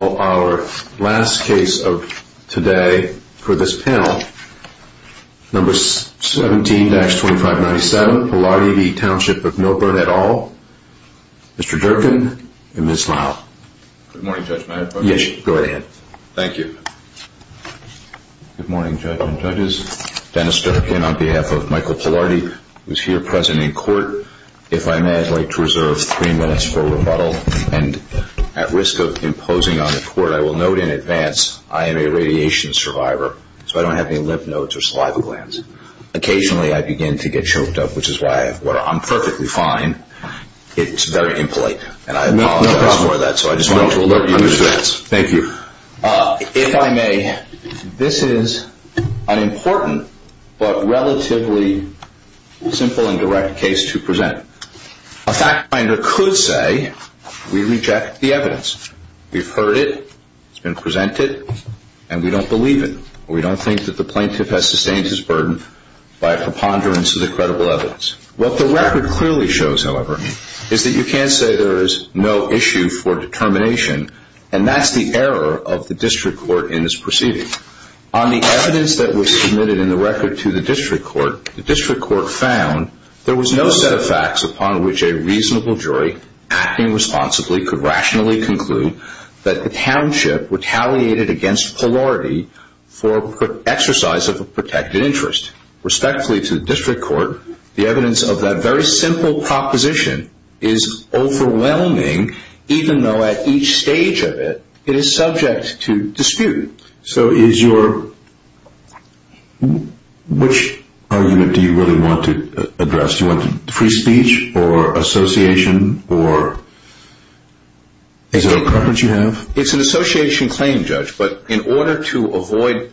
Our last case of today for this panel, number 17-2597, Pillardy v. Township of Millburn et al., Mr. Durkin and Ms. Lyle. Good morning, Judge, may I have a motion? Yes, go ahead. Thank you. Good morning, Judge and judges, Dennis Durkin on behalf of Michael Pillardy, who is here present in court. If I may, I'd like to reserve three minutes for rebuttal, and at risk of imposing on the court, I will note in advance, I am a radiation survivor, so I don't have any lymph nodes or saliva glands. Occasionally, I begin to get choked up, which is why I'm perfectly fine. It's very impolite, and I apologize for that, so I just wanted to alert you to that. Thank you. If I may, this is an important, but relatively simple and direct case to present. A fact finder could say we reject the evidence, we've heard it, it's been presented, and we don't believe it. We don't think that the plaintiff has sustained his burden by a preponderance of the credible evidence. What the record clearly shows, however, is that you can't say there is no issue for determination, and that's the error of the district court in this proceeding. On the evidence that was submitted in the record to the district court, the district court found there was no set of facts upon which a reasonable jury, acting responsibly, could rationally conclude that the township retaliated against Pillardy for exercise of a protected interest. Respectfully to the district court, the evidence of that very simple proposition is overwhelming, even though at each stage of it, it is subject to dispute. So is your, which argument do you really want to address? Do you want free speech, or association, or, is it a preference you have? It's an association claim, Judge, but in order to avoid,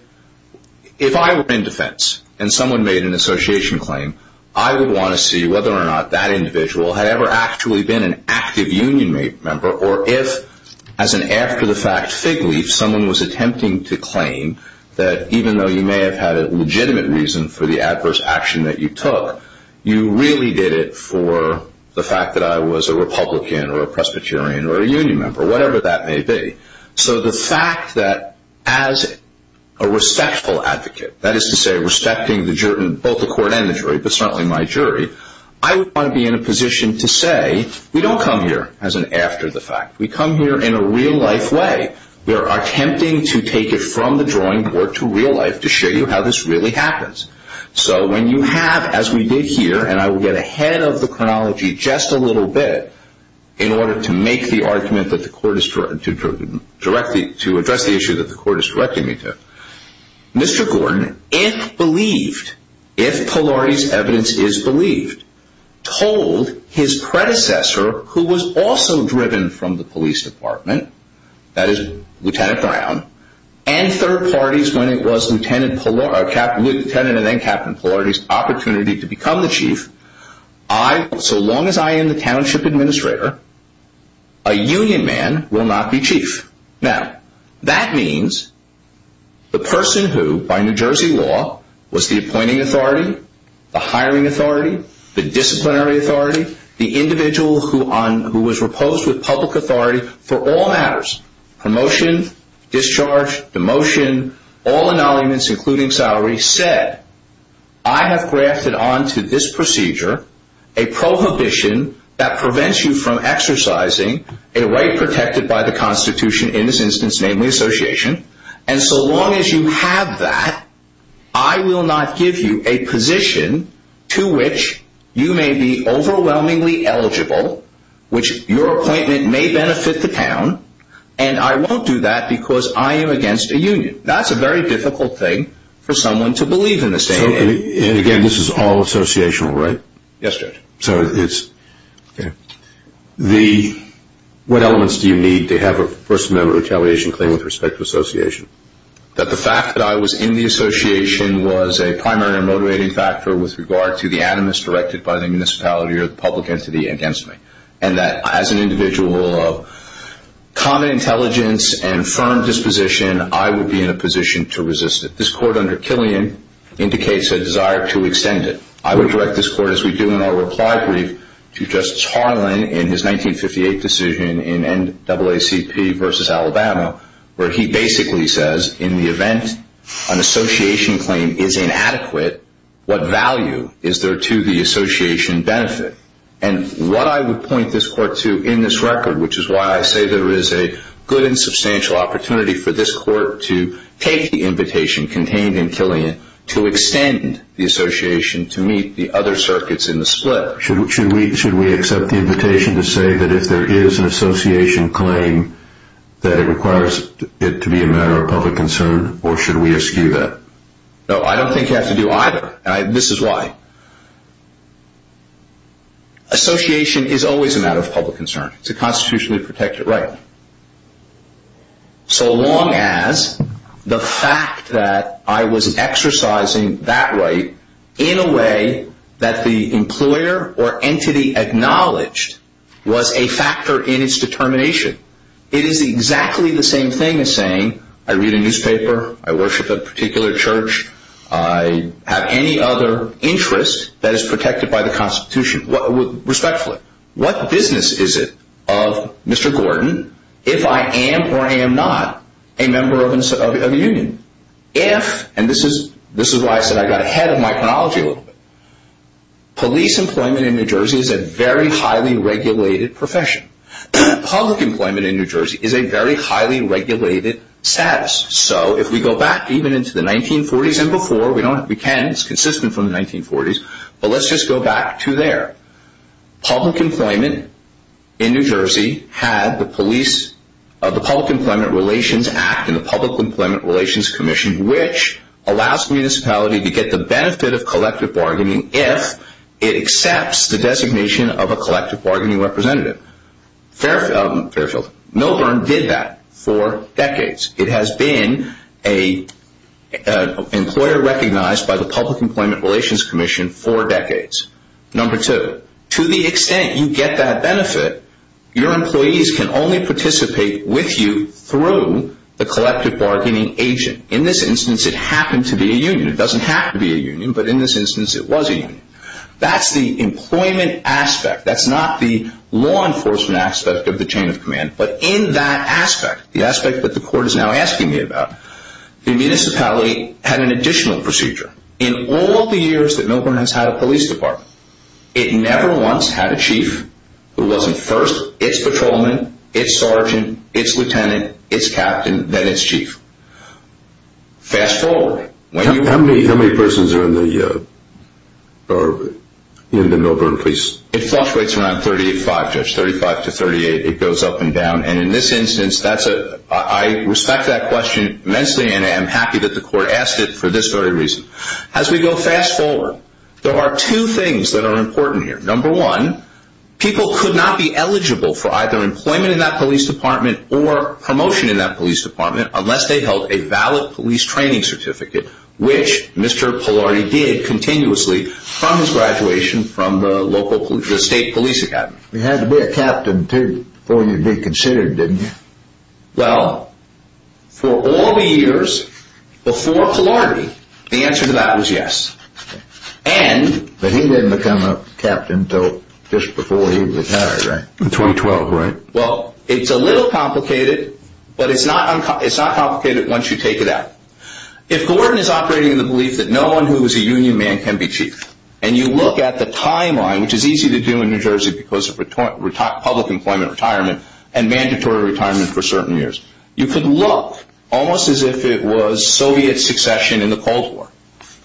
if I were in defense, and someone made an association claim, I would want to see whether or not that individual had ever actually been an active union member, or if, as an after-the-fact fig leaf, someone was attempting to claim that even though you may have had a legitimate reason for the adverse action that you took, you really did it for the fact that I was a Republican, or a Presbyterian, or a union member, whatever that may be. So the fact that, as a respectful advocate, that is to say, respecting both the court and the jury, but certainly my jury, I would want to be in a position to say, we don't come here as an after-the-fact. We come here in a real-life way. We are attempting to take it from the drawing board to real life to show you how this really happens. So, when you have, as we did here, and I will get ahead of the chronology just a little bit in order to make the argument that the court is, to address the issue that the court is directing me to, Mr. Gordon, if believed, if Polari's evidence is believed, told his predecessor, who was also driven from the police department, that is, Lieutenant Brown, and third parties when it was Lieutenant Polari, Lieutenant and then Captain Polari's opportunity to become the chief, I, so long as I am the township administrator, a union man will not be chief. Now, that means the person who, by New Jersey law, was the appointing authority, the hiring authority, the disciplinary authority, the individual who was reposed with public authority for all matters, promotion, discharge, demotion, all acknowledgments including salary, said, I have grafted onto this procedure a prohibition that prevents you from exercising a right protected by the Constitution, in this instance, namely, association, and so long as you have that, I will not give you a position to which you may be overwhelmingly eligible, which your appointment may benefit the town, and I won't do that because I am against a union. That's a very difficult thing for someone to believe in this day and age. So, and again, this is all associational, right? Yes, Judge. So, it's, okay. What elements do you need to have a personal retaliation claim with respect to association? That the fact that I was in the association was a primary motivating factor with regard to the animus directed by the municipality or the public entity against me, and that as an individual of common intelligence and firm disposition, I would be in a position to resist it. This court under Killian indicates a desire to extend it. I would direct this court, as we do in our reply brief, to Justice Harlan in his 1958 decision in NAACP versus Alabama, where he basically says, in the event an association claim is inadequate, what value is there to the association benefit? And what I would point this court to in this record, which is why I say there is a good and substantial opportunity for this court to take the invitation contained in Killian to extend the association to meet the other circuits in the split. Should we accept the invitation to say that if there is an association claim, that it requires it to be a matter of public concern, or should we eschew that? No, I don't think you have to do either. This is why. Association is always a matter of public concern. It's a constitutionally protected right. So long as the fact that I was exercising that right in a way that the employer or entity acknowledged was a factor in its determination, it is exactly the same thing as saying, I read a newspaper, I worship a particular church, I have any other interest that is protected by the constitution, respectfully. What business is it of Mr. Gordon if I am or am not a member of a union? If, and this is why I said I got ahead of my chronology a little bit, police employment in New Jersey is a very highly regulated profession. Public employment in New Jersey is a very highly regulated status. So if we go back even into the 1940s and before, we can, it's consistent from the 1940s, but let's just go back to there. Public employment in New Jersey had the police, the Public Employment Relations Act and the Public Employment Relations Commission, which allows the municipality to get the benefit of collective bargaining if it accepts the designation of a collective bargaining representative. Millburn did that for decades. It has been an employer recognized by the Public Employment Relations Commission for decades. Number two, to the extent you get that benefit, your employees can only participate with you through the collective bargaining agent. In this instance, it happened to be a union. It doesn't have to be a union, but in this instance, it was a union. That's the employment aspect. That's not the law enforcement aspect of the chain of command. But in that aspect, the aspect that the court is now asking me about, the municipality had an additional procedure. In all the years that Millburn has had a police department, it never once had a chief who wasn't first. It's patrolman, it's sergeant, it's lieutenant, it's captain, then it's chief. Fast forward. How many persons are in the Millburn police? It fluctuates around 35, Judge. 35 to 38. It goes up and down. And in this instance, I respect that question immensely and I'm happy that the court asked it for this very reason. As we go fast forward, there are two things that are important here. Number one, people could not be eligible for either employment in that police department or promotion in that police department unless they held a valid police training certificate, which Mr. Polardi did continuously from his graduation from the state police academy. He had to be a captain too before he'd be considered, didn't he? Well, for all the years before Polardi, the answer to that was yes. But he didn't become a captain until just before he retired, right? In 2012, right? Well, it's a little complicated, but it's not complicated once you take it out. If Gordon is operating in the belief that no one who is a union man can be chief, and you look at the timeline, which is easy to do in New Jersey because of You could look almost as if it was Soviet succession in the Cold War.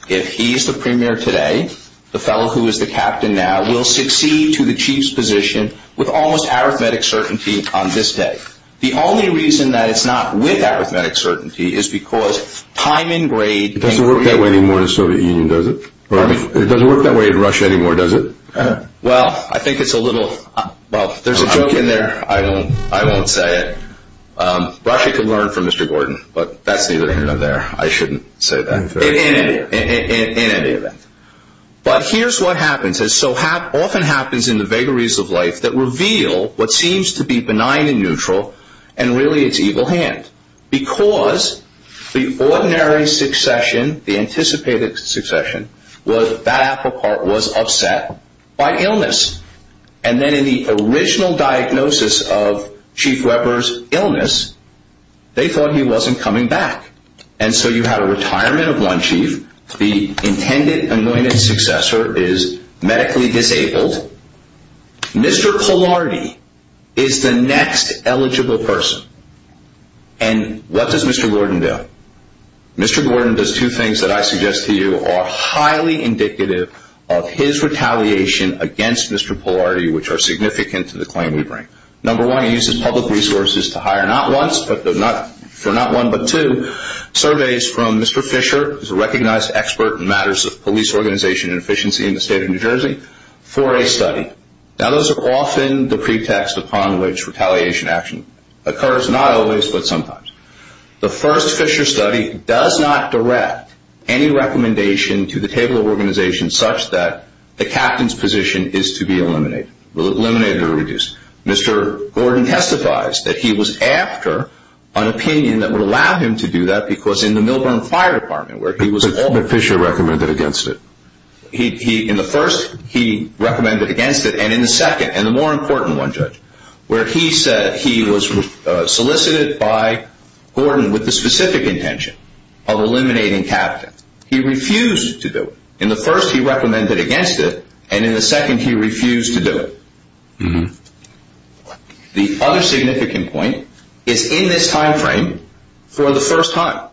If he's the premier today, the fellow who is the captain now will succeed to the chief's position with almost arithmetic certainty on this day. The only reason that it's not with arithmetic certainty is because time and grade... It doesn't work that way anymore in the Soviet Union, does it? It doesn't work that way in Russia anymore, does it? Well, I think it's a little... Well, there's a joke in there. I won't say it. Russia can learn from Mr. Gordon, but that's the other end of there. I shouldn't say that in any event. But here's what happens. It often happens in the vagaries of life that reveal what seems to be benign and neutral, and really it's evil hand. Because the ordinary succession, the anticipated succession, was that Applecart was upset by illness. And then in the original diagnosis of Chief Weber's illness, they thought he wasn't coming back. And so you have a retirement of one chief. The intended anointed successor is medically disabled. Mr. Polardi is the next eligible person. And what does Mr. Gordon do? Mr. Gordon does two things that I suggest to you are highly indicative of his retaliation against Mr. Polardi, which are significant to the claim we bring. Number one, he uses public resources to hire not one, but two, surveys from Mr. Fisher, who's a recognized expert in matters of police organization and efficiency in the state of New Jersey, for a study. Now, those are often the pretext upon which retaliation action occurs. Not always, but sometimes. The first Fisher study does not direct any recommendation to the table of organizations such that the captain's position is to be eliminated or reduced. Mr. Gordon testifies that he was after an opinion that would allow him to do that because in the Milburn Fire Department, where he was... But Fisher recommended against it. In the first, he recommended against it. And in the second, and the more important one, Judge, where he said he was solicited by Gordon with the specific intention of eliminating captains. He refused to do it. In the first, he recommended against it. And in the second, he refused to do it. The other significant point is in this time frame, for the first time,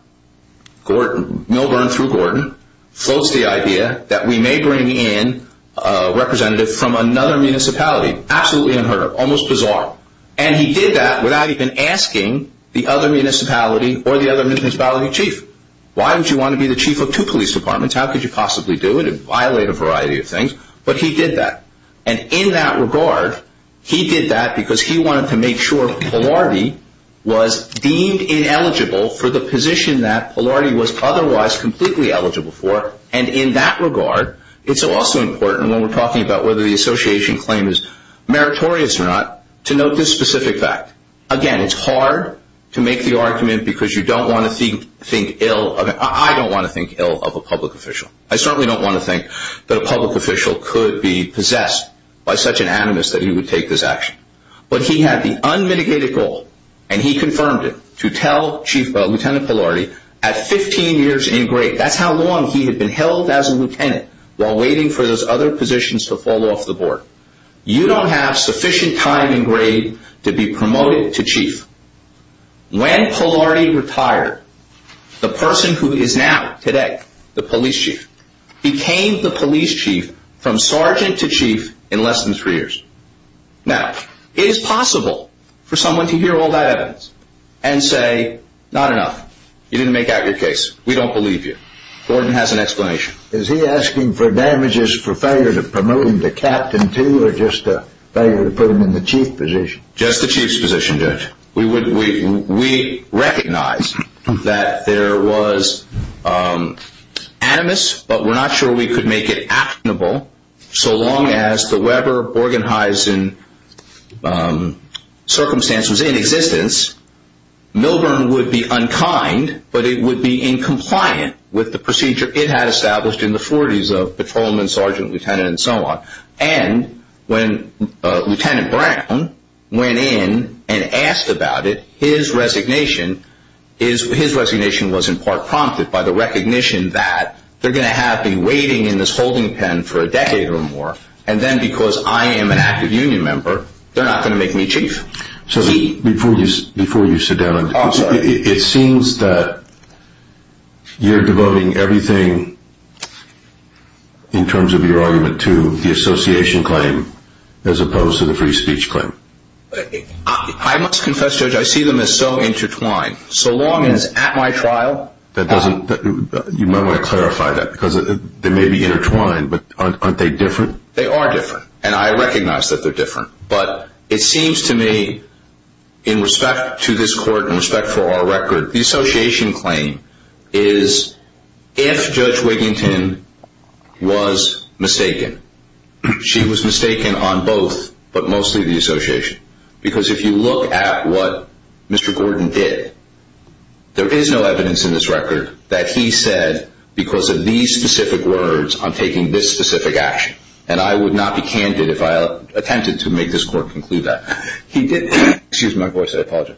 Gordon, Milburn through Gordon, floats the idea that we may bring in a representative from another municipality, absolutely unheard of, almost bizarre. And he did that without even asking the other municipality or the other municipality chief. Why would you want to be the chief of two police departments? How could you possibly do it and violate a variety of things? But he did that. And in that regard, he did that because he wanted to make sure Polardi was deemed ineligible for the position that Polardi was otherwise completely eligible for. And in that regard, it's also important when we're talking about whether the association claim is meritorious or not, to note this specific fact. Again, it's hard to make the argument because you don't want to think ill of it. I don't want to think ill of a public official. I certainly don't want to think that a public official could be possessed by such an animus that he would take this action. But he had the unmitigated goal, and he confirmed it, to tell Chief, Lieutenant Polardi, at 15 years in grade, that's how long he had been held as a lieutenant while waiting for those other positions to fall off the board. You don't have sufficient time in grade to be promoted to chief. When Polardi retired, the person who is now, today, the police chief, became the police chief from sergeant to chief in less than three years. Now, it is possible for someone to hear all that evidence and say, not enough. You didn't make out your case. We don't believe you. Gordon has an explanation. Is he asking for damages for failure to promote him to captain, too, or just a failure to put him in the chief position? Just the chief's position, Judge. We recognize that there was animus, but we're not sure we could make it actionable so long as the Weber-Borgenheisen circumstance was in existence. Milburn would be unkind, but it would be incompliant with the procedure it had established in the 40s of patrolman, sergeant, lieutenant, and so on. When Lieutenant Brown went in and asked about it, his resignation was, in part, prompted by the recognition that they're going to have me waiting in this holding pen for a decade or more, and then, because I am an active union member, they're not going to make me chief. Before you sit down, it seems that you're devoting everything in terms of your argument to the association claim as opposed to the free speech claim. I must confess, Judge, I see them as so intertwined. So long as at my trial... That doesn't... You might want to clarify that, because they may be intertwined, but aren't they different? They are different, and I recognize that they're different, but it seems to me, in respect to this court, in respect for our record, the association claim is if Judge Wiginton was mistaken. She was mistaken on both, but mostly the association, because if you look at what Mr. Gordon did, there is no evidence in this record that he said, because of these specific words, I'm taking this specific action, and I would not be candid if I attempted to make this court conclude that. He did... Excuse my voice, I apologize.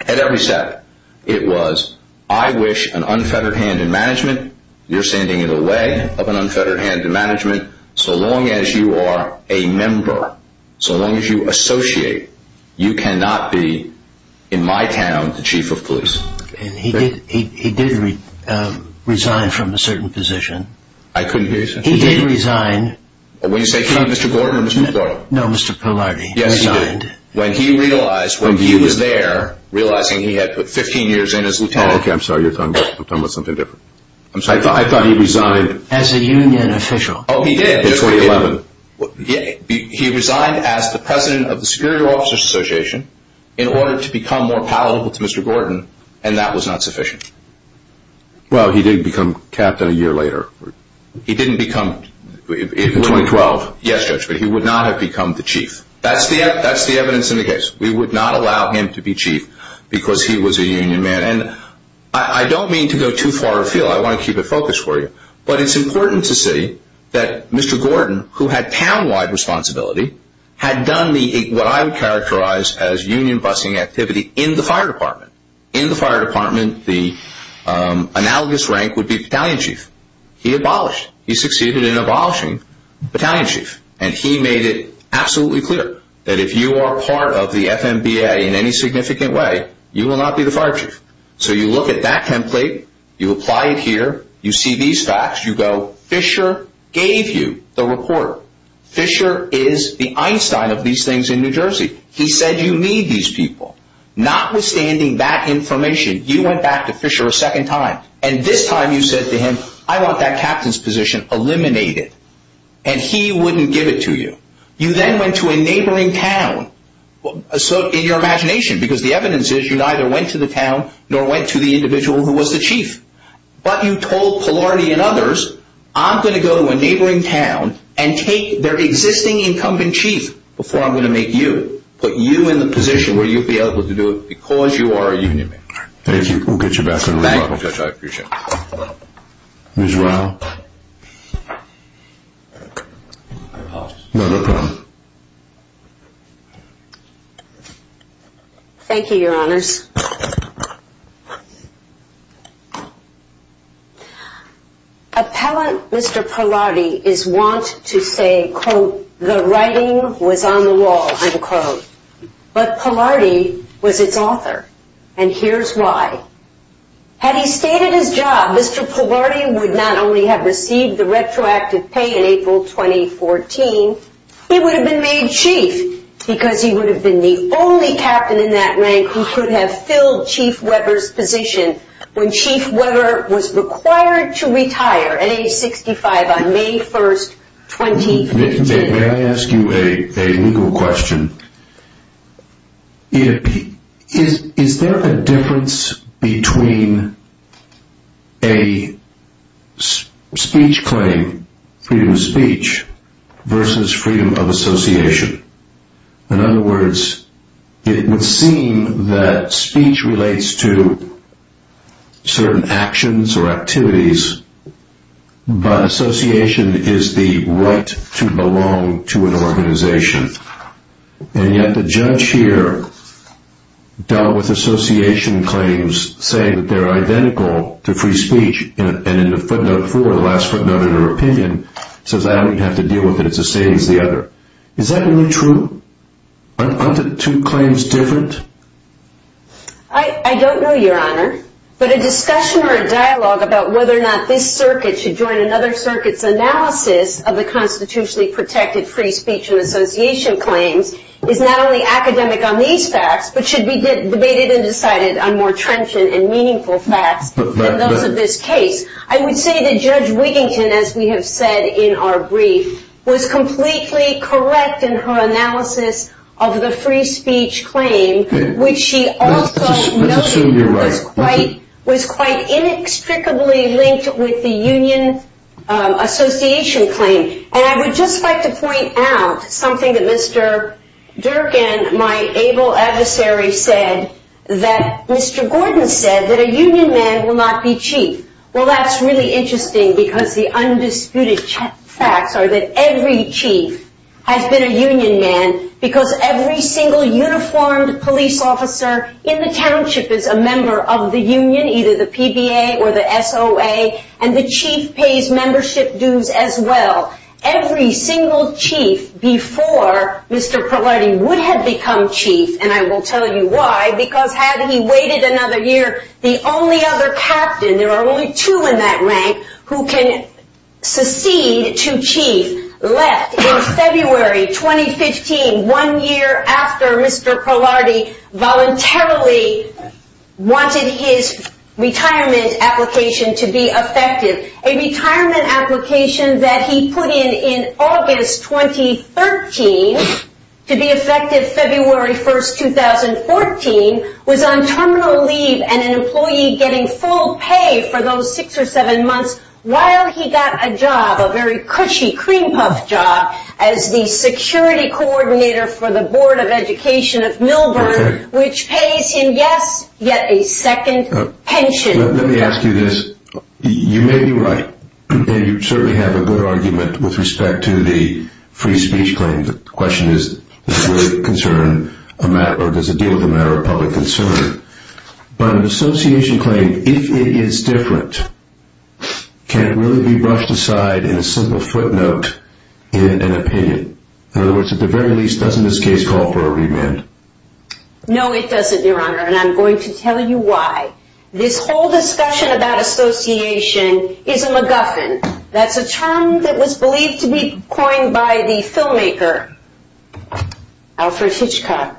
At every step, it was, I wish an unfettered hand in management, you're sending it away, of an unfettered hand in management, so long as you are a member, so long as you associate, you cannot be, in my town, the chief of police. And he did resign from a certain position. I couldn't hear you, sir. He did resign... When you say, from Mr. Gordon or Mr. Gordon? No, Mr. Polardi. Yes, he did. When he realized, when he was there, realizing he had put 15 years in as lieutenant... Okay, I'm sorry, you're talking about something different. I'm sorry. I thought he resigned... As a union official. Oh, he did. In 2011. He resigned as the president of the Security Officers Association, in order to become more palatable to Mr. Gordon, and that was not sufficient. Well, he did become captain a year later. He didn't become... In 2012. Yes, Judge, but he would not have become the chief. That's the evidence in the case. We would not allow him to be chief, because he was a union man. And I don't mean to go too far afield. I want to keep it focused for you. But it's important to see that Mr. Gordon, who had town-wide responsibility, had done what I would characterize as union busing activity in the fire department. In the fire department, the analogous rank would be battalion chief. He abolished. He succeeded in abolishing battalion chief. And he made it absolutely clear, that if you are part of the FMBA in any significant way, you will not be the fire chief. So you look at that template, you apply it here, you see these facts, you go, Fisher gave you the report. Fisher is the Einstein of these things in New Jersey. He said, you need these people. Notwithstanding that information, you went back to Fisher a second time. And this time you said to him, I want that captain's position eliminated. And he wouldn't give it to you. You then went to a neighboring town. So in your imagination, because the evidence is you neither went to the town, nor went to the individual who was the chief. But you told Polardi and others, I'm going to go to a neighboring town and take their existing incumbent chief before I'm going to make you, put you in the position where you'll be able to do it because you are a union member. Thank you. We'll get you back to the rebuttal. Thank you, Judge. I appreciate it. Ms. Rao. Thank you, your honors. Appellant Mr. Polardi is want to say, quote, the writing was on the wall, unquote. But Polardi was its author. And here's why. Had he stayed at his job, Mr. Polardi would not only have received the retroactive pay in April 2014, he would have been made chief because he would have been the only captain in that rank who could have filled Chief Weber's position when Chief Weber was required to retire at age 65 on May 1st, 2015. May I ask you a legal question? Is there a difference between a speech claim, freedom of speech versus freedom of association? In other words, it would seem that speech relates to certain actions or activities, but association is the right to belong to an organization. And yet the judge here dealt with association claims, saying that they're identical to free speech. And in the footnote for the last footnote in her opinion, says I don't even have to deal with it. It's the same as the other. Is that really true? Aren't the two claims different? I don't know, your honor. But a discussion or a dialogue about whether or not this circuit should join another circuit's analysis of the constitutionally protected free speech and association claims is not only academic on these facts, but should be debated and decided on more trenchant and meaningful facts than those of this case. I would say that Judge Wigington, as we have said in our brief, was completely correct in her analysis of the free speech claim, which she also noted was quite inextricably linked with the union association claim. And I would just like to point out something that Mr. Durkin, my able adversary, said that Mr. Gordon said that a union man will not be chief. Well, that's really interesting because the undisputed facts are that every chief has been a union man because every single uniformed police officer in the township is a member of the union, either the PBA or the SOA. And the chief pays membership dues as well. Every single chief before Mr. Polardi would have become chief, and I will tell you why, because had he waited another year, the only other captain, there are only two in that rank, who can secede to chief left in February 2015, one year after Mr. Polardi voluntarily wanted his retirement application to be effective. A retirement application that he put in in August 2013 to be effective February 1st, 2014, was on terminal leave and an employee getting full pay for those six or seven months while he got a job, a very cushy cream puff job, as the security coordinator for the Board of Education of Millburn, which pays him, yes, yet a second pension. Let me ask you this. You may be right. And you certainly have a good argument with respect to the free speech claim. The question is, does it concern a matter, or does it deal with a matter of public concern? But an association claim, if it is different, can it really be brushed aside in a simple footnote in an opinion? In other words, at the very least, doesn't this case call for a remand? No, it doesn't, Your Honor. And I'm going to tell you why. This whole discussion about association is a MacGuffin. That's a term that was believed to be coined by the filmmaker, Alfred Hitchcock,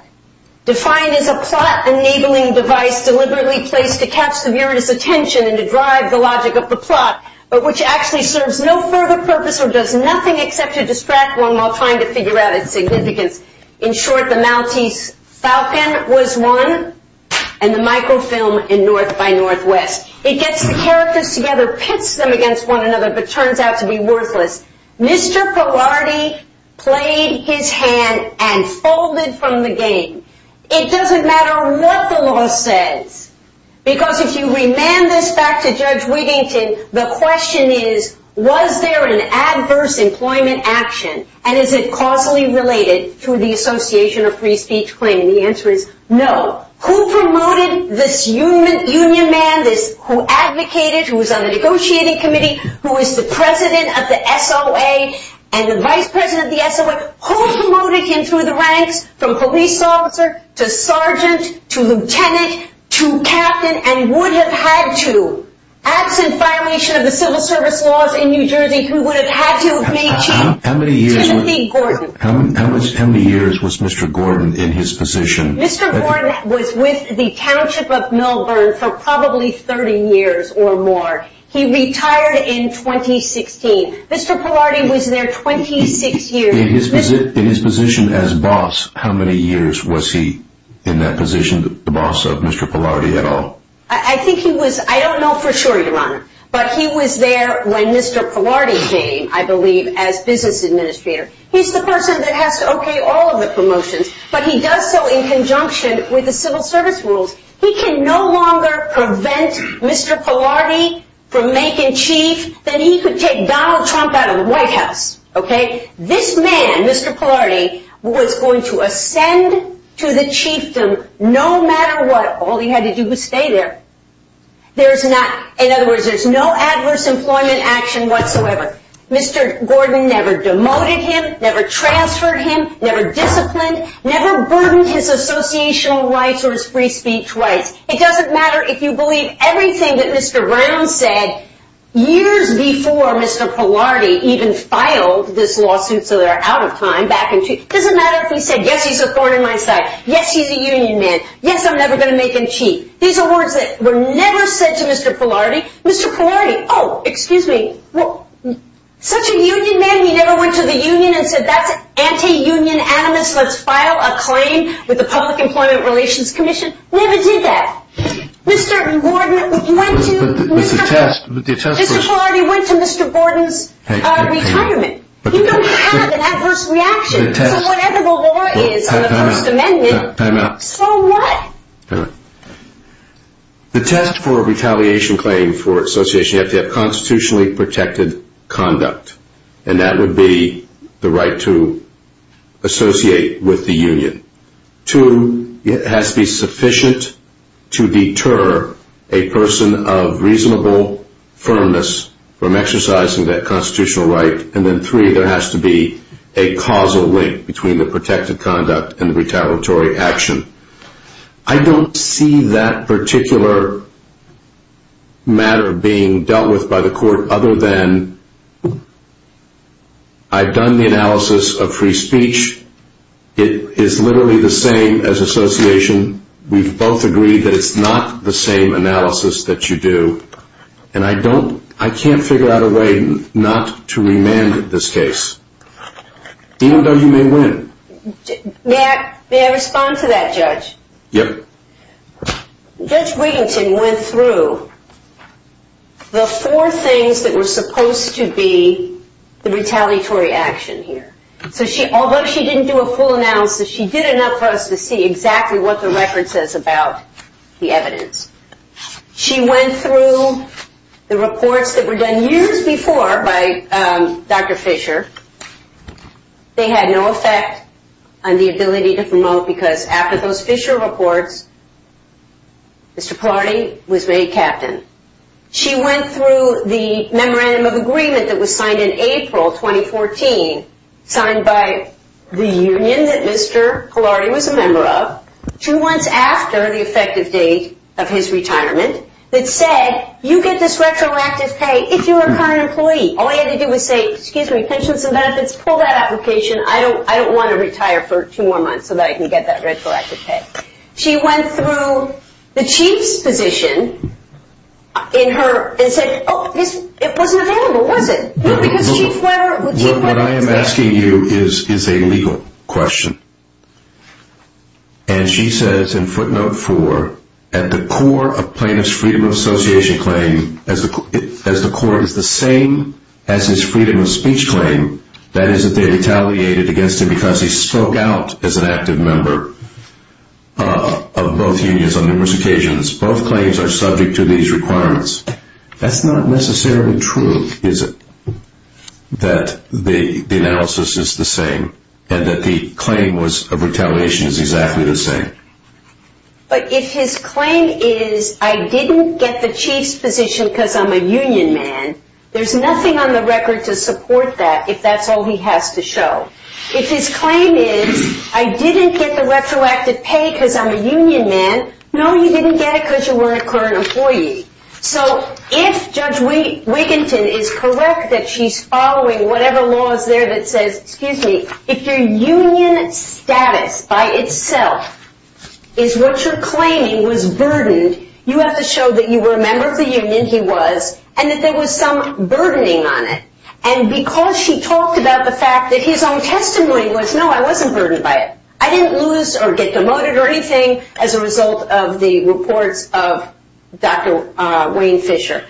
defined as a plot-enabling device deliberately placed to catch the viewer's attention and to drive the logic of the plot, but which actually serves no further purpose or does nothing except to distract one while trying to figure out its significance. In short, the Maltese Falcon was one, and the microfilm in North by Northwest. It gets the characters together and pits them against one another, but turns out to be worthless. Mr. Polardi played his hand and folded from the game. It doesn't matter what the law says, because if you remand this back to Judge Wigington, the question is, was there an adverse employment action? And is it causally related to the association of free speech claim? And the answer is no. Who promoted this union man, this who advocated, who was on the negotiating committee, who is the president of the SOA and the vice president of the SOA? Who promoted him through the ranks from police officer to sergeant to lieutenant to captain and would have had to, absent violation of the civil service laws in New Jersey, who would have had to have made chief? How many years was Mr. Gordon in his position? Mr. Gordon was with the township of Melbourne for probably 30 years or more. He retired in 2016. Mr. Polardi was there 26 years. In his position as boss, how many years was he in that position, the boss of Mr. Polardi at all? I think he was, I don't know for sure, Your Honor, but he was there when Mr. Polardi came, I believe, as business administrator. He's the person that has to okay all of the promotions, but he does so in conjunction with the civil service rules. He can no longer prevent Mr. Polardi from making chief. Then he could take Donald Trump out of the White House, okay? This man, Mr. Polardi, was going to ascend to the chiefdom no matter what. All he had to do was stay there. There's not, in other words, there's no adverse employment action whatsoever. Mr. Gordon never demoted him, never transferred him, never disciplined, never burdened his associational rights or his free speech rights. It doesn't matter if you believe everything that Mr. Brown said years before Mr. Polardi even filed this lawsuit so they're out of time back in, it doesn't matter if we said, yes, he's a thorn in my side. Yes, he's a union man. Yes, I'm never going to make him chief. These are words that were never said to Mr. Polardi. Mr. Polardi, oh, excuse me. Such a union man, he never went to the union and said that's anti-union animus. Let's file a claim with the Public Employment Relations Commission. We never did that. Mr. Gordon went to Mr. Polardi, went to Mr. Gordon's retirement. You don't have an adverse reaction to whatever the law is on the First Amendment. The test for a retaliation claim for association, you have to have constitutionally protected conduct and that would be the right to associate with the union. Two, it has to be sufficient to deter a person of reasonable firmness from exercising that constitutional right. And then three, there has to be a causal link between the protected conduct and the retaliatory action. I don't see that particular matter being dealt with by the court other than I've done the analysis of free speech. It is literally the same as association. We've both agreed that it's not the same analysis that you do. And I don't, I can't figure out a way not to remand this case. Even though you may win. May I respond to that, Judge? Yep. Judge Wiginton went through the four things that were supposed to be the retaliatory action here. So she, although she didn't do a full analysis, she did enough for us to see exactly what the record says about the evidence. She went through the reports that were done years before by Dr. Fisher. They had no effect on the ability to promote because after those Fisher reports, Mr. Polardi was made captain. She went through the memorandum of agreement that was signed in April, 2014, signed by the union that Mr. Polardi was a member of, two months after the effective date of his retirement, that said, you get this retroactive pay if you're a current employee. All I had to do was say, excuse me, pensions and benefits, pull that application. I don't want to retire for two more months so that I can get that retroactive pay. She went through the chief's position in her, and said, oh, it wasn't available, was it? No, because Chief Webber, the chief went through that. What I am asking you is a legal question. And she says, in footnote four, at the core of plaintiff's freedom of association claim, as the court is the same as his freedom of speech claim, that is that they retaliated against him because he spoke out as an active member of both unions on numerous occasions. Both claims are subject to these requirements. That's not necessarily true, is it? That the analysis is the same and that the claim was of retaliation is exactly the same. But if his claim is, I didn't get the chief's position because I'm a union man, there's nothing on the record to support that if that's all he has to show. If his claim is, I didn't get the retroactive pay because I'm a union man. No, you didn't get it because you weren't a current employee. So if Judge Wiginton is correct that she's following whatever law is there that says, excuse me, if your union status by itself is what you're claiming was burdened, you have to show that you were a member of the union he was and that there was some burdening on it. And because she talked about the fact that his own testimony was, no, I wasn't burdened by it. I didn't lose or get demoted or anything as a result of the reports of Dr. Wayne Fisher.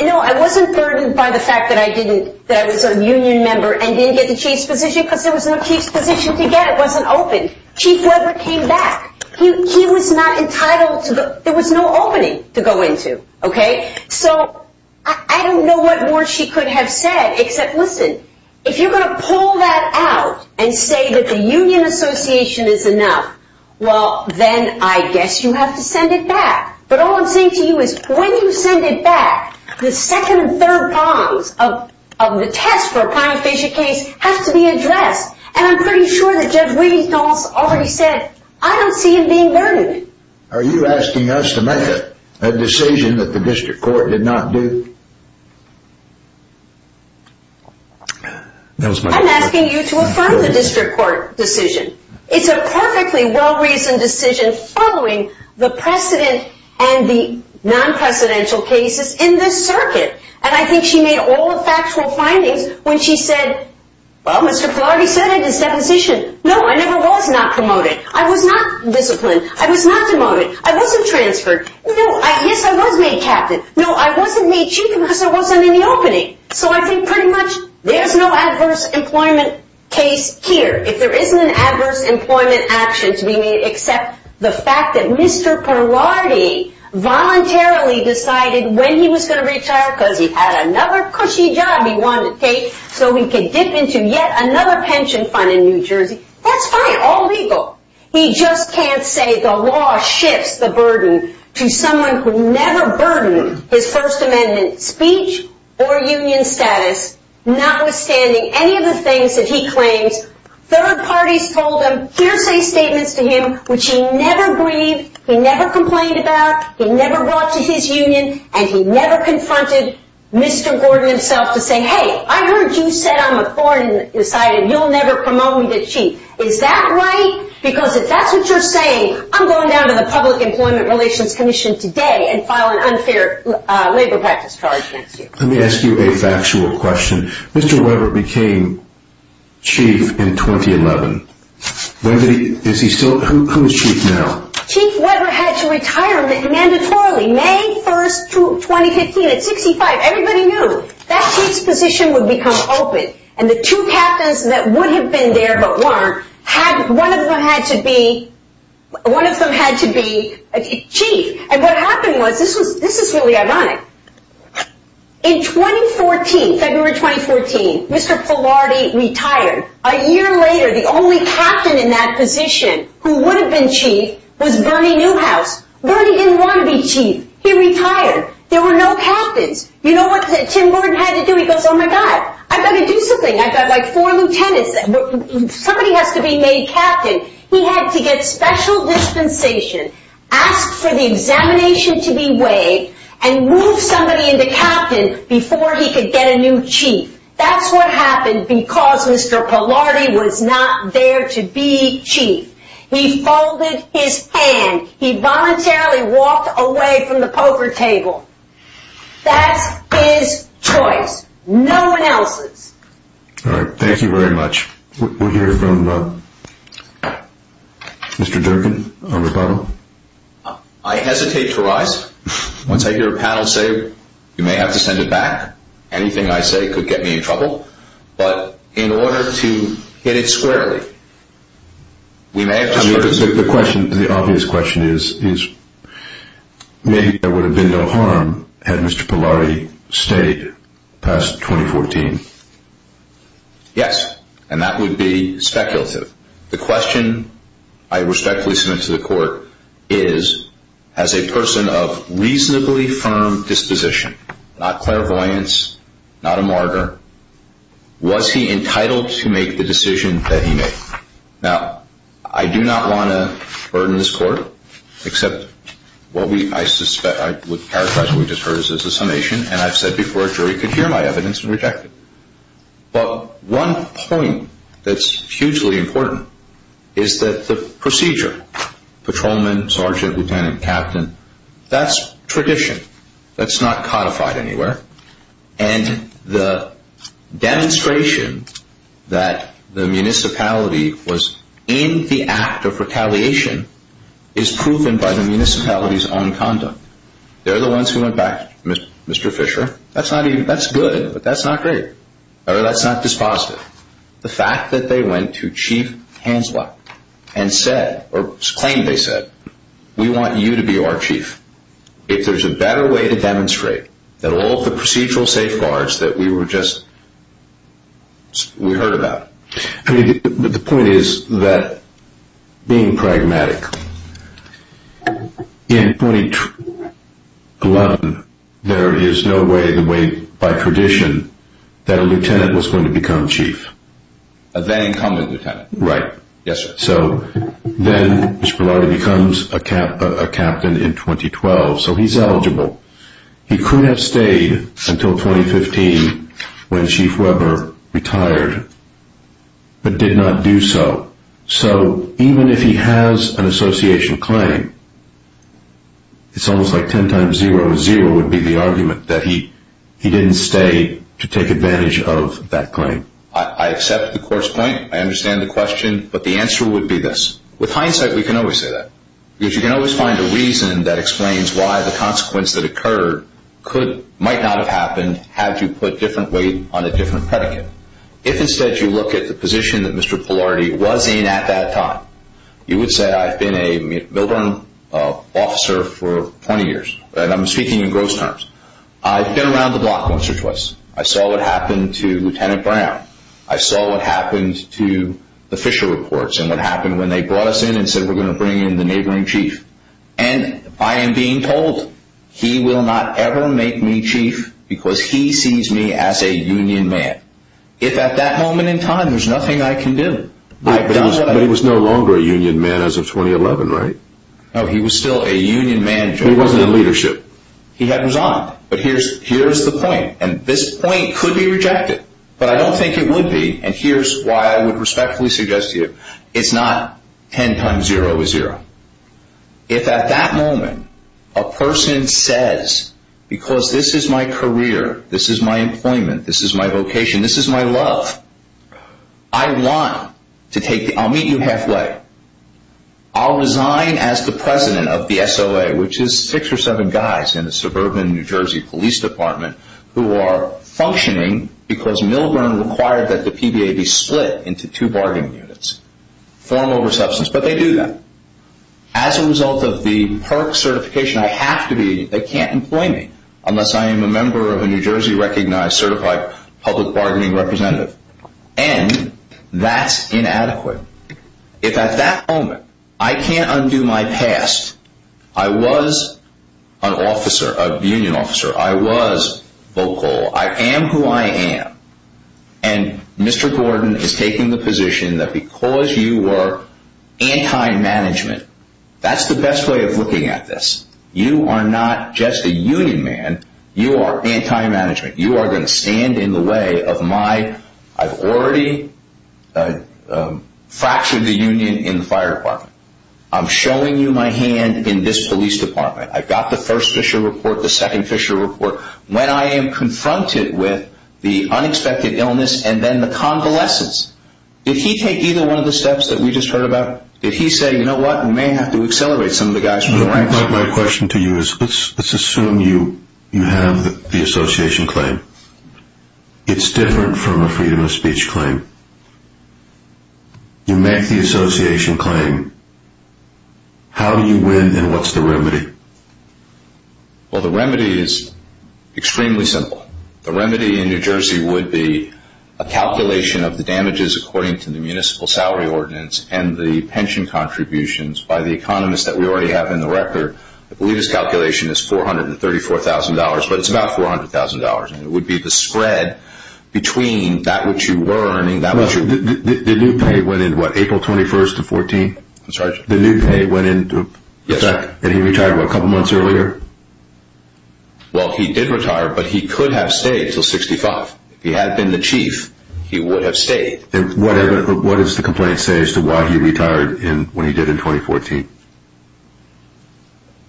No, I wasn't burdened by the fact that I didn't, a union member and didn't get the chief's position because there was no chief's position to get it wasn't open. Chief Weber came back. He was not entitled to the, there was no opening to go into. OK, so I don't know what more she could have said, except listen, if you're going to pull that out and say that the union association is enough, well, then I guess you have to send it back. But all I'm saying to you is when you send it back, the second and third bonds of the test for a prima facie case has to be addressed. And I'm pretty sure that Jeff Wiggins also already said I don't see him being burdened. Are you asking us to make a decision that the district court did not do? I'm asking you to affirm the district court decision. It's a perfectly well-reasoned decision following the precedent and the non-precedential cases in this circuit. And I think she made all the factual findings when she said, well, Mr. Pilardi said in his deposition, no, I never was not promoted. I was not disciplined. I was not demoted. I wasn't transferred. No, I guess I was made captain. No, I wasn't made chief because I wasn't in the opening. So I think pretty much there's no adverse employment case here. If there isn't an adverse employment actions, we need to accept the fact that Mr. Pilardi voluntarily decided when he was going to retire because he had another cushy job he wanted to take so he could dip into yet another pension fund in New Jersey. That's fine. All legal. He just can't say the law shifts the burden to someone who never burdened his First Amendment speech or union status, notwithstanding any of the things that he claims. Third parties told him hearsay statements to him, which he never breathed. He never complained about he never brought to his union. And he never confronted Mr. Gordon himself to say, hey, I heard you said I'm a foreign decided you'll never promote me to chief. Is that right? Because if that's what you're saying, I'm going down to the Public Employment Relations Commission today and file an unfair labor practice charge next year. Let me ask you a factual question. Mr. Webber became chief in 2011. Is he still? Who is chief now? Chief Webber had to retire mandatorily. May 1st, 2015 at 65. Everybody knew that chief's position would become open. And the two captains that would have been there, but weren't, had one of them had to be one of them had to be chief. And what happened was this was this is really ironic. In 2014, February 2014, Mr. Polardi retired. A year later, the only captain in that position who would have been chief was Bernie Newhouse. Bernie didn't want to be chief. He retired. There were no captains. You know what Tim Gordon had to do? He goes, Oh my God, I've got to do something. I've got like four lieutenants. Somebody has to be made captain. He had to get special dispensation, ask for the examination to be weighed and move somebody into captain before he could get a new chief. That's what happened because Mr. Polardi was not there to be chief. He folded his hand. He voluntarily walked away from the poker table. That's his choice. No one else's. All right. Thank you very much. We'll hear from Mr. Durkin on the bottom. I hesitate to rise. Once I hear a panel say, you may have to send it back. Anything I say could get me in trouble. But in order to hit it squarely, we may have to. The question, the obvious question is, maybe there would have been no harm had Mr. Polardi stayed past 2014. Yes, and that would be speculative. The question I respectfully submit to the court is as a person of reasonably firm disposition, not clairvoyance, not a martyr. Was he entitled to make the decision that he made? Now, I do not want to burden this court, except what I suspect, I would characterize what we just heard as a summation. And I've said before, a jury could hear my evidence and reject it. But one point that's hugely important is that the procedure, patrolman, sergeant, lieutenant, captain, that's tradition. That's not codified anywhere. And the demonstration that the municipality was in the act of retaliation is proven by the municipality's own conduct. They're the ones who went back, Mr. Fisher, that's not even, that's good, but that's not great. Or that's not dispositive. The fact that they went to Chief Hanselot and said, or claimed they said, we want you to be our chief. If there's a better way to demonstrate that all the procedural safeguards that we were just, we heard about. The point is that being pragmatic is not a good thing. In 2011, there is no way, the way, by tradition, that a lieutenant was going to become chief. A then incumbent lieutenant. Right. Yes, sir. So then Mr. Pallotti becomes a captain in 2012. So he's eligible. He could have stayed until 2015 when Chief Weber retired, but did not do so. So even if he has an association claim, it's almost like 10 times 0 is 0 would be the argument that he didn't stay to take advantage of that claim. I accept the court's point. I understand the question, but the answer would be this. With hindsight, we can always say that. Because you can always find a reason that explains why the consequence that occurred might not have happened had you put different weight on a different predicate. If instead, you look at the position that Mr. Pallotti was in at that time, you would say I've been a Milburn officer for 20 years. I'm speaking in gross terms. I've been around the block once or twice. I saw what happened to Lieutenant Brown. I saw what happened to the Fisher reports and what happened when they brought us in and said we're going to bring in the neighboring chief. And I am being told he will not ever make me chief because he sees me as a union man. If at that moment in time, there's nothing I can do. But he was no longer a union man as of 2011, right? No, he was still a union man. He wasn't in leadership. He had his honor. But here's the point. And this point could be rejected. But I don't think it would be. And here's why I would respectfully suggest to you. It's not 10 times zero is zero. If at that moment, a person says, because this is my career, this is my employment, this is my vocation, this is my love. I want to take, I'll meet you halfway. I'll resign as the president of the SOA, which is six or seven guys in a suburban New Jersey police department who are functioning because Milburn required that the PBA be split into two bargaining units. Form over substance, but they do that. As a result of the PERC certification, I have to be, they can't employ me unless I am a member of a New Jersey recognized, certified public bargaining representative. And that's inadequate. If at that moment, I can't undo my past. I was an officer, a union officer. I was vocal. I am who I am. And Mr. Gordon is taking the position that because you were anti-management, that's the best way of looking at this. You are not just a union man. You are anti-management. You are going to stand in the way of my, I've already fractured the union in the fire department. I'm showing you my hand in this police department. I've got the first Fisher report, the second Fisher report. When I am confronted with the unexpected illness and then the convalescence, did he take either one of the steps that we just heard about? Did he say, you know what? We may have to accelerate some of the guys from the ranks. My question to you is, let's assume you have the association claim. It's different from a freedom of speech claim. You make the association claim. How do you win? And what's the remedy? Well, the remedy is extremely simple. The remedy in New Jersey would be a calculation of the damages according to the municipal salary ordinance and the pension contributions by the economists that we already have in the record. I believe his calculation is $434,000, but it's about $400,000. It would be the spread between that which you were earning... Well, the new pay went in what? April 21st of 14? That's right. The new pay went in... And he retired a couple months earlier? Well, he did retire, but he could have stayed until 65. If he had been the chief, he would have stayed. What does the complaint say as to why he retired when he did in 2014?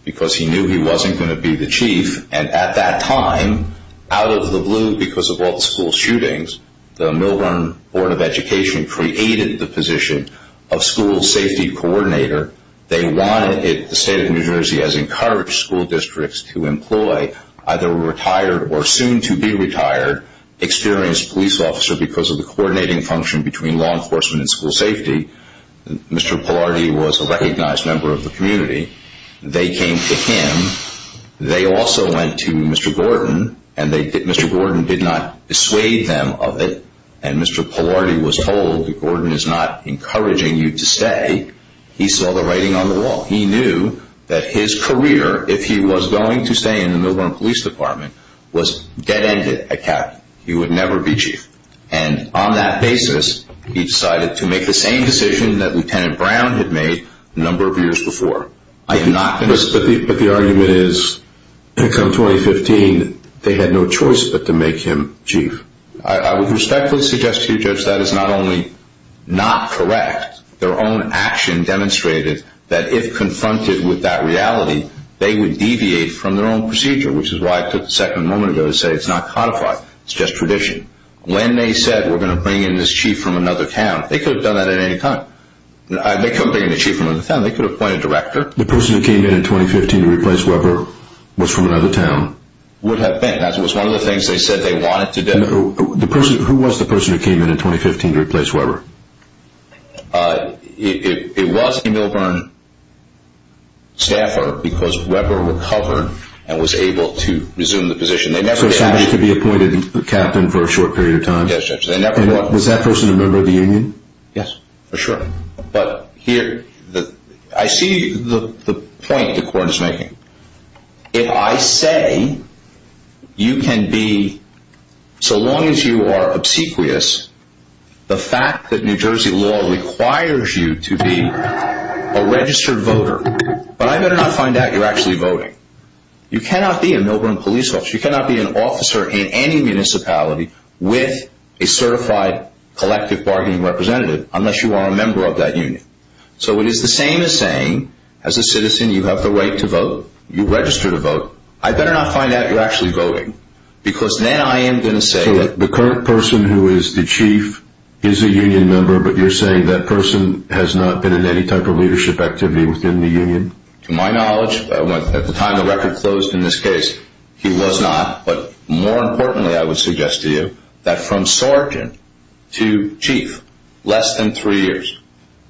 Because he knew he wasn't going to be the chief. And at that time, out of the blue because of all the school shootings, the Milburn Board of Education created the position of school safety coordinator. They wanted it. The state of New Jersey has encouraged school districts to employ either a retired or soon-to-be-retired, experienced police officer because of the coordinating function between law enforcement and school safety. Mr. Polardi was a recognized member of the community. They came to him. They also went to Mr. Gordon and Mr. Gordon did not dissuade them of it. And Mr. Polardi was told that Gordon is not encouraging you to stay. He saw the writing on the wall. He knew that his career, if he was going to stay in the Milburn Police Department, was dead-ended at CAP. He would never be chief. And on that basis, he decided to make the same decision that Lieutenant Brown had made a number of years before. But the argument is, to come 2015, they had no choice but to make him chief. I would respectfully suggest to you, Judge, that is not only not correct. Their own action demonstrated that if confronted with that reality, they would deviate from their own procedure, which is why I took the second moment ago to say it's not codified. It's just tradition. When they said, we're going to bring in this chief from another town, they could have done that at any time. They couldn't bring in a chief from another town. They could appoint a director. The person who came in in 2015 to replace Weber was from another town. Would have been. That was one of the things they said they wanted to do. Who was the person who came in in 2015 to replace Weber? It was a Milburn staffer because Weber recovered and was able to resume the position. They never asked him to be appointed captain for a short period of time. Was that person a member of the union? Yes, for sure. But here, I see the point the court is making. If I say you can be, so long as you are obsequious, the fact that New Jersey law requires you to be a registered voter, but I better not find out you're actually voting. You cannot be a Milburn police officer. You cannot be an officer in any municipality with a certified collective bargaining representative unless you are a member of that union. So it is the same as saying as a citizen, you have the right to vote. You register to vote. I better not find out you're actually voting because then I am going to say that the current person who is the chief is a union member. But you're saying that person has not been in any type of leadership activity within the union. To my knowledge, at the time the record closed in this case, he was not. But more importantly, I would suggest to you that from sergeant to chief less than three years.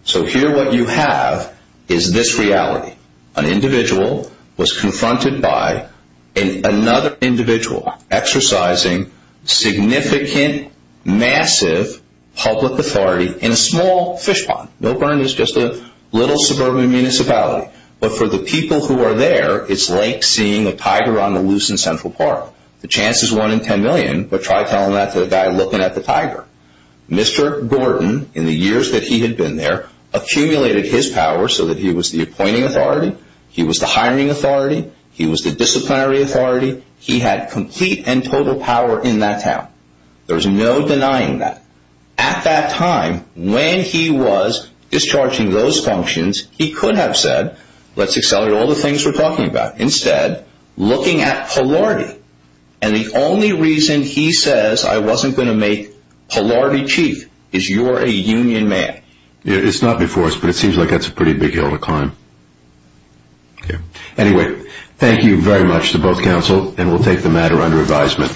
So here what you have is this reality. An individual was confronted by another individual exercising significant, massive public authority in a small fish pond. Milburn is just a little suburban municipality. But for the people who are there, it's like seeing a tiger on the loose in Central Park. The chance is one in 10 million, but try telling that to the guy looking at the tiger. Mr. Gordon, in the years that he had been there, accumulated his power so that he was the appointing authority. He was the hiring authority. He was the disciplinary authority. He had complete and total power in that town. There's no denying that. At that time, when he was discharging those functions, he could have said, let's accelerate all the things we're talking about. Instead, looking at polarity. And the only reason he says I wasn't going to make polarity chief is you're a union man. It's not before us, but it seems like that's a pretty big hill to climb. Anyway, thank you very much to both counsel, and we'll take the matter under advisement.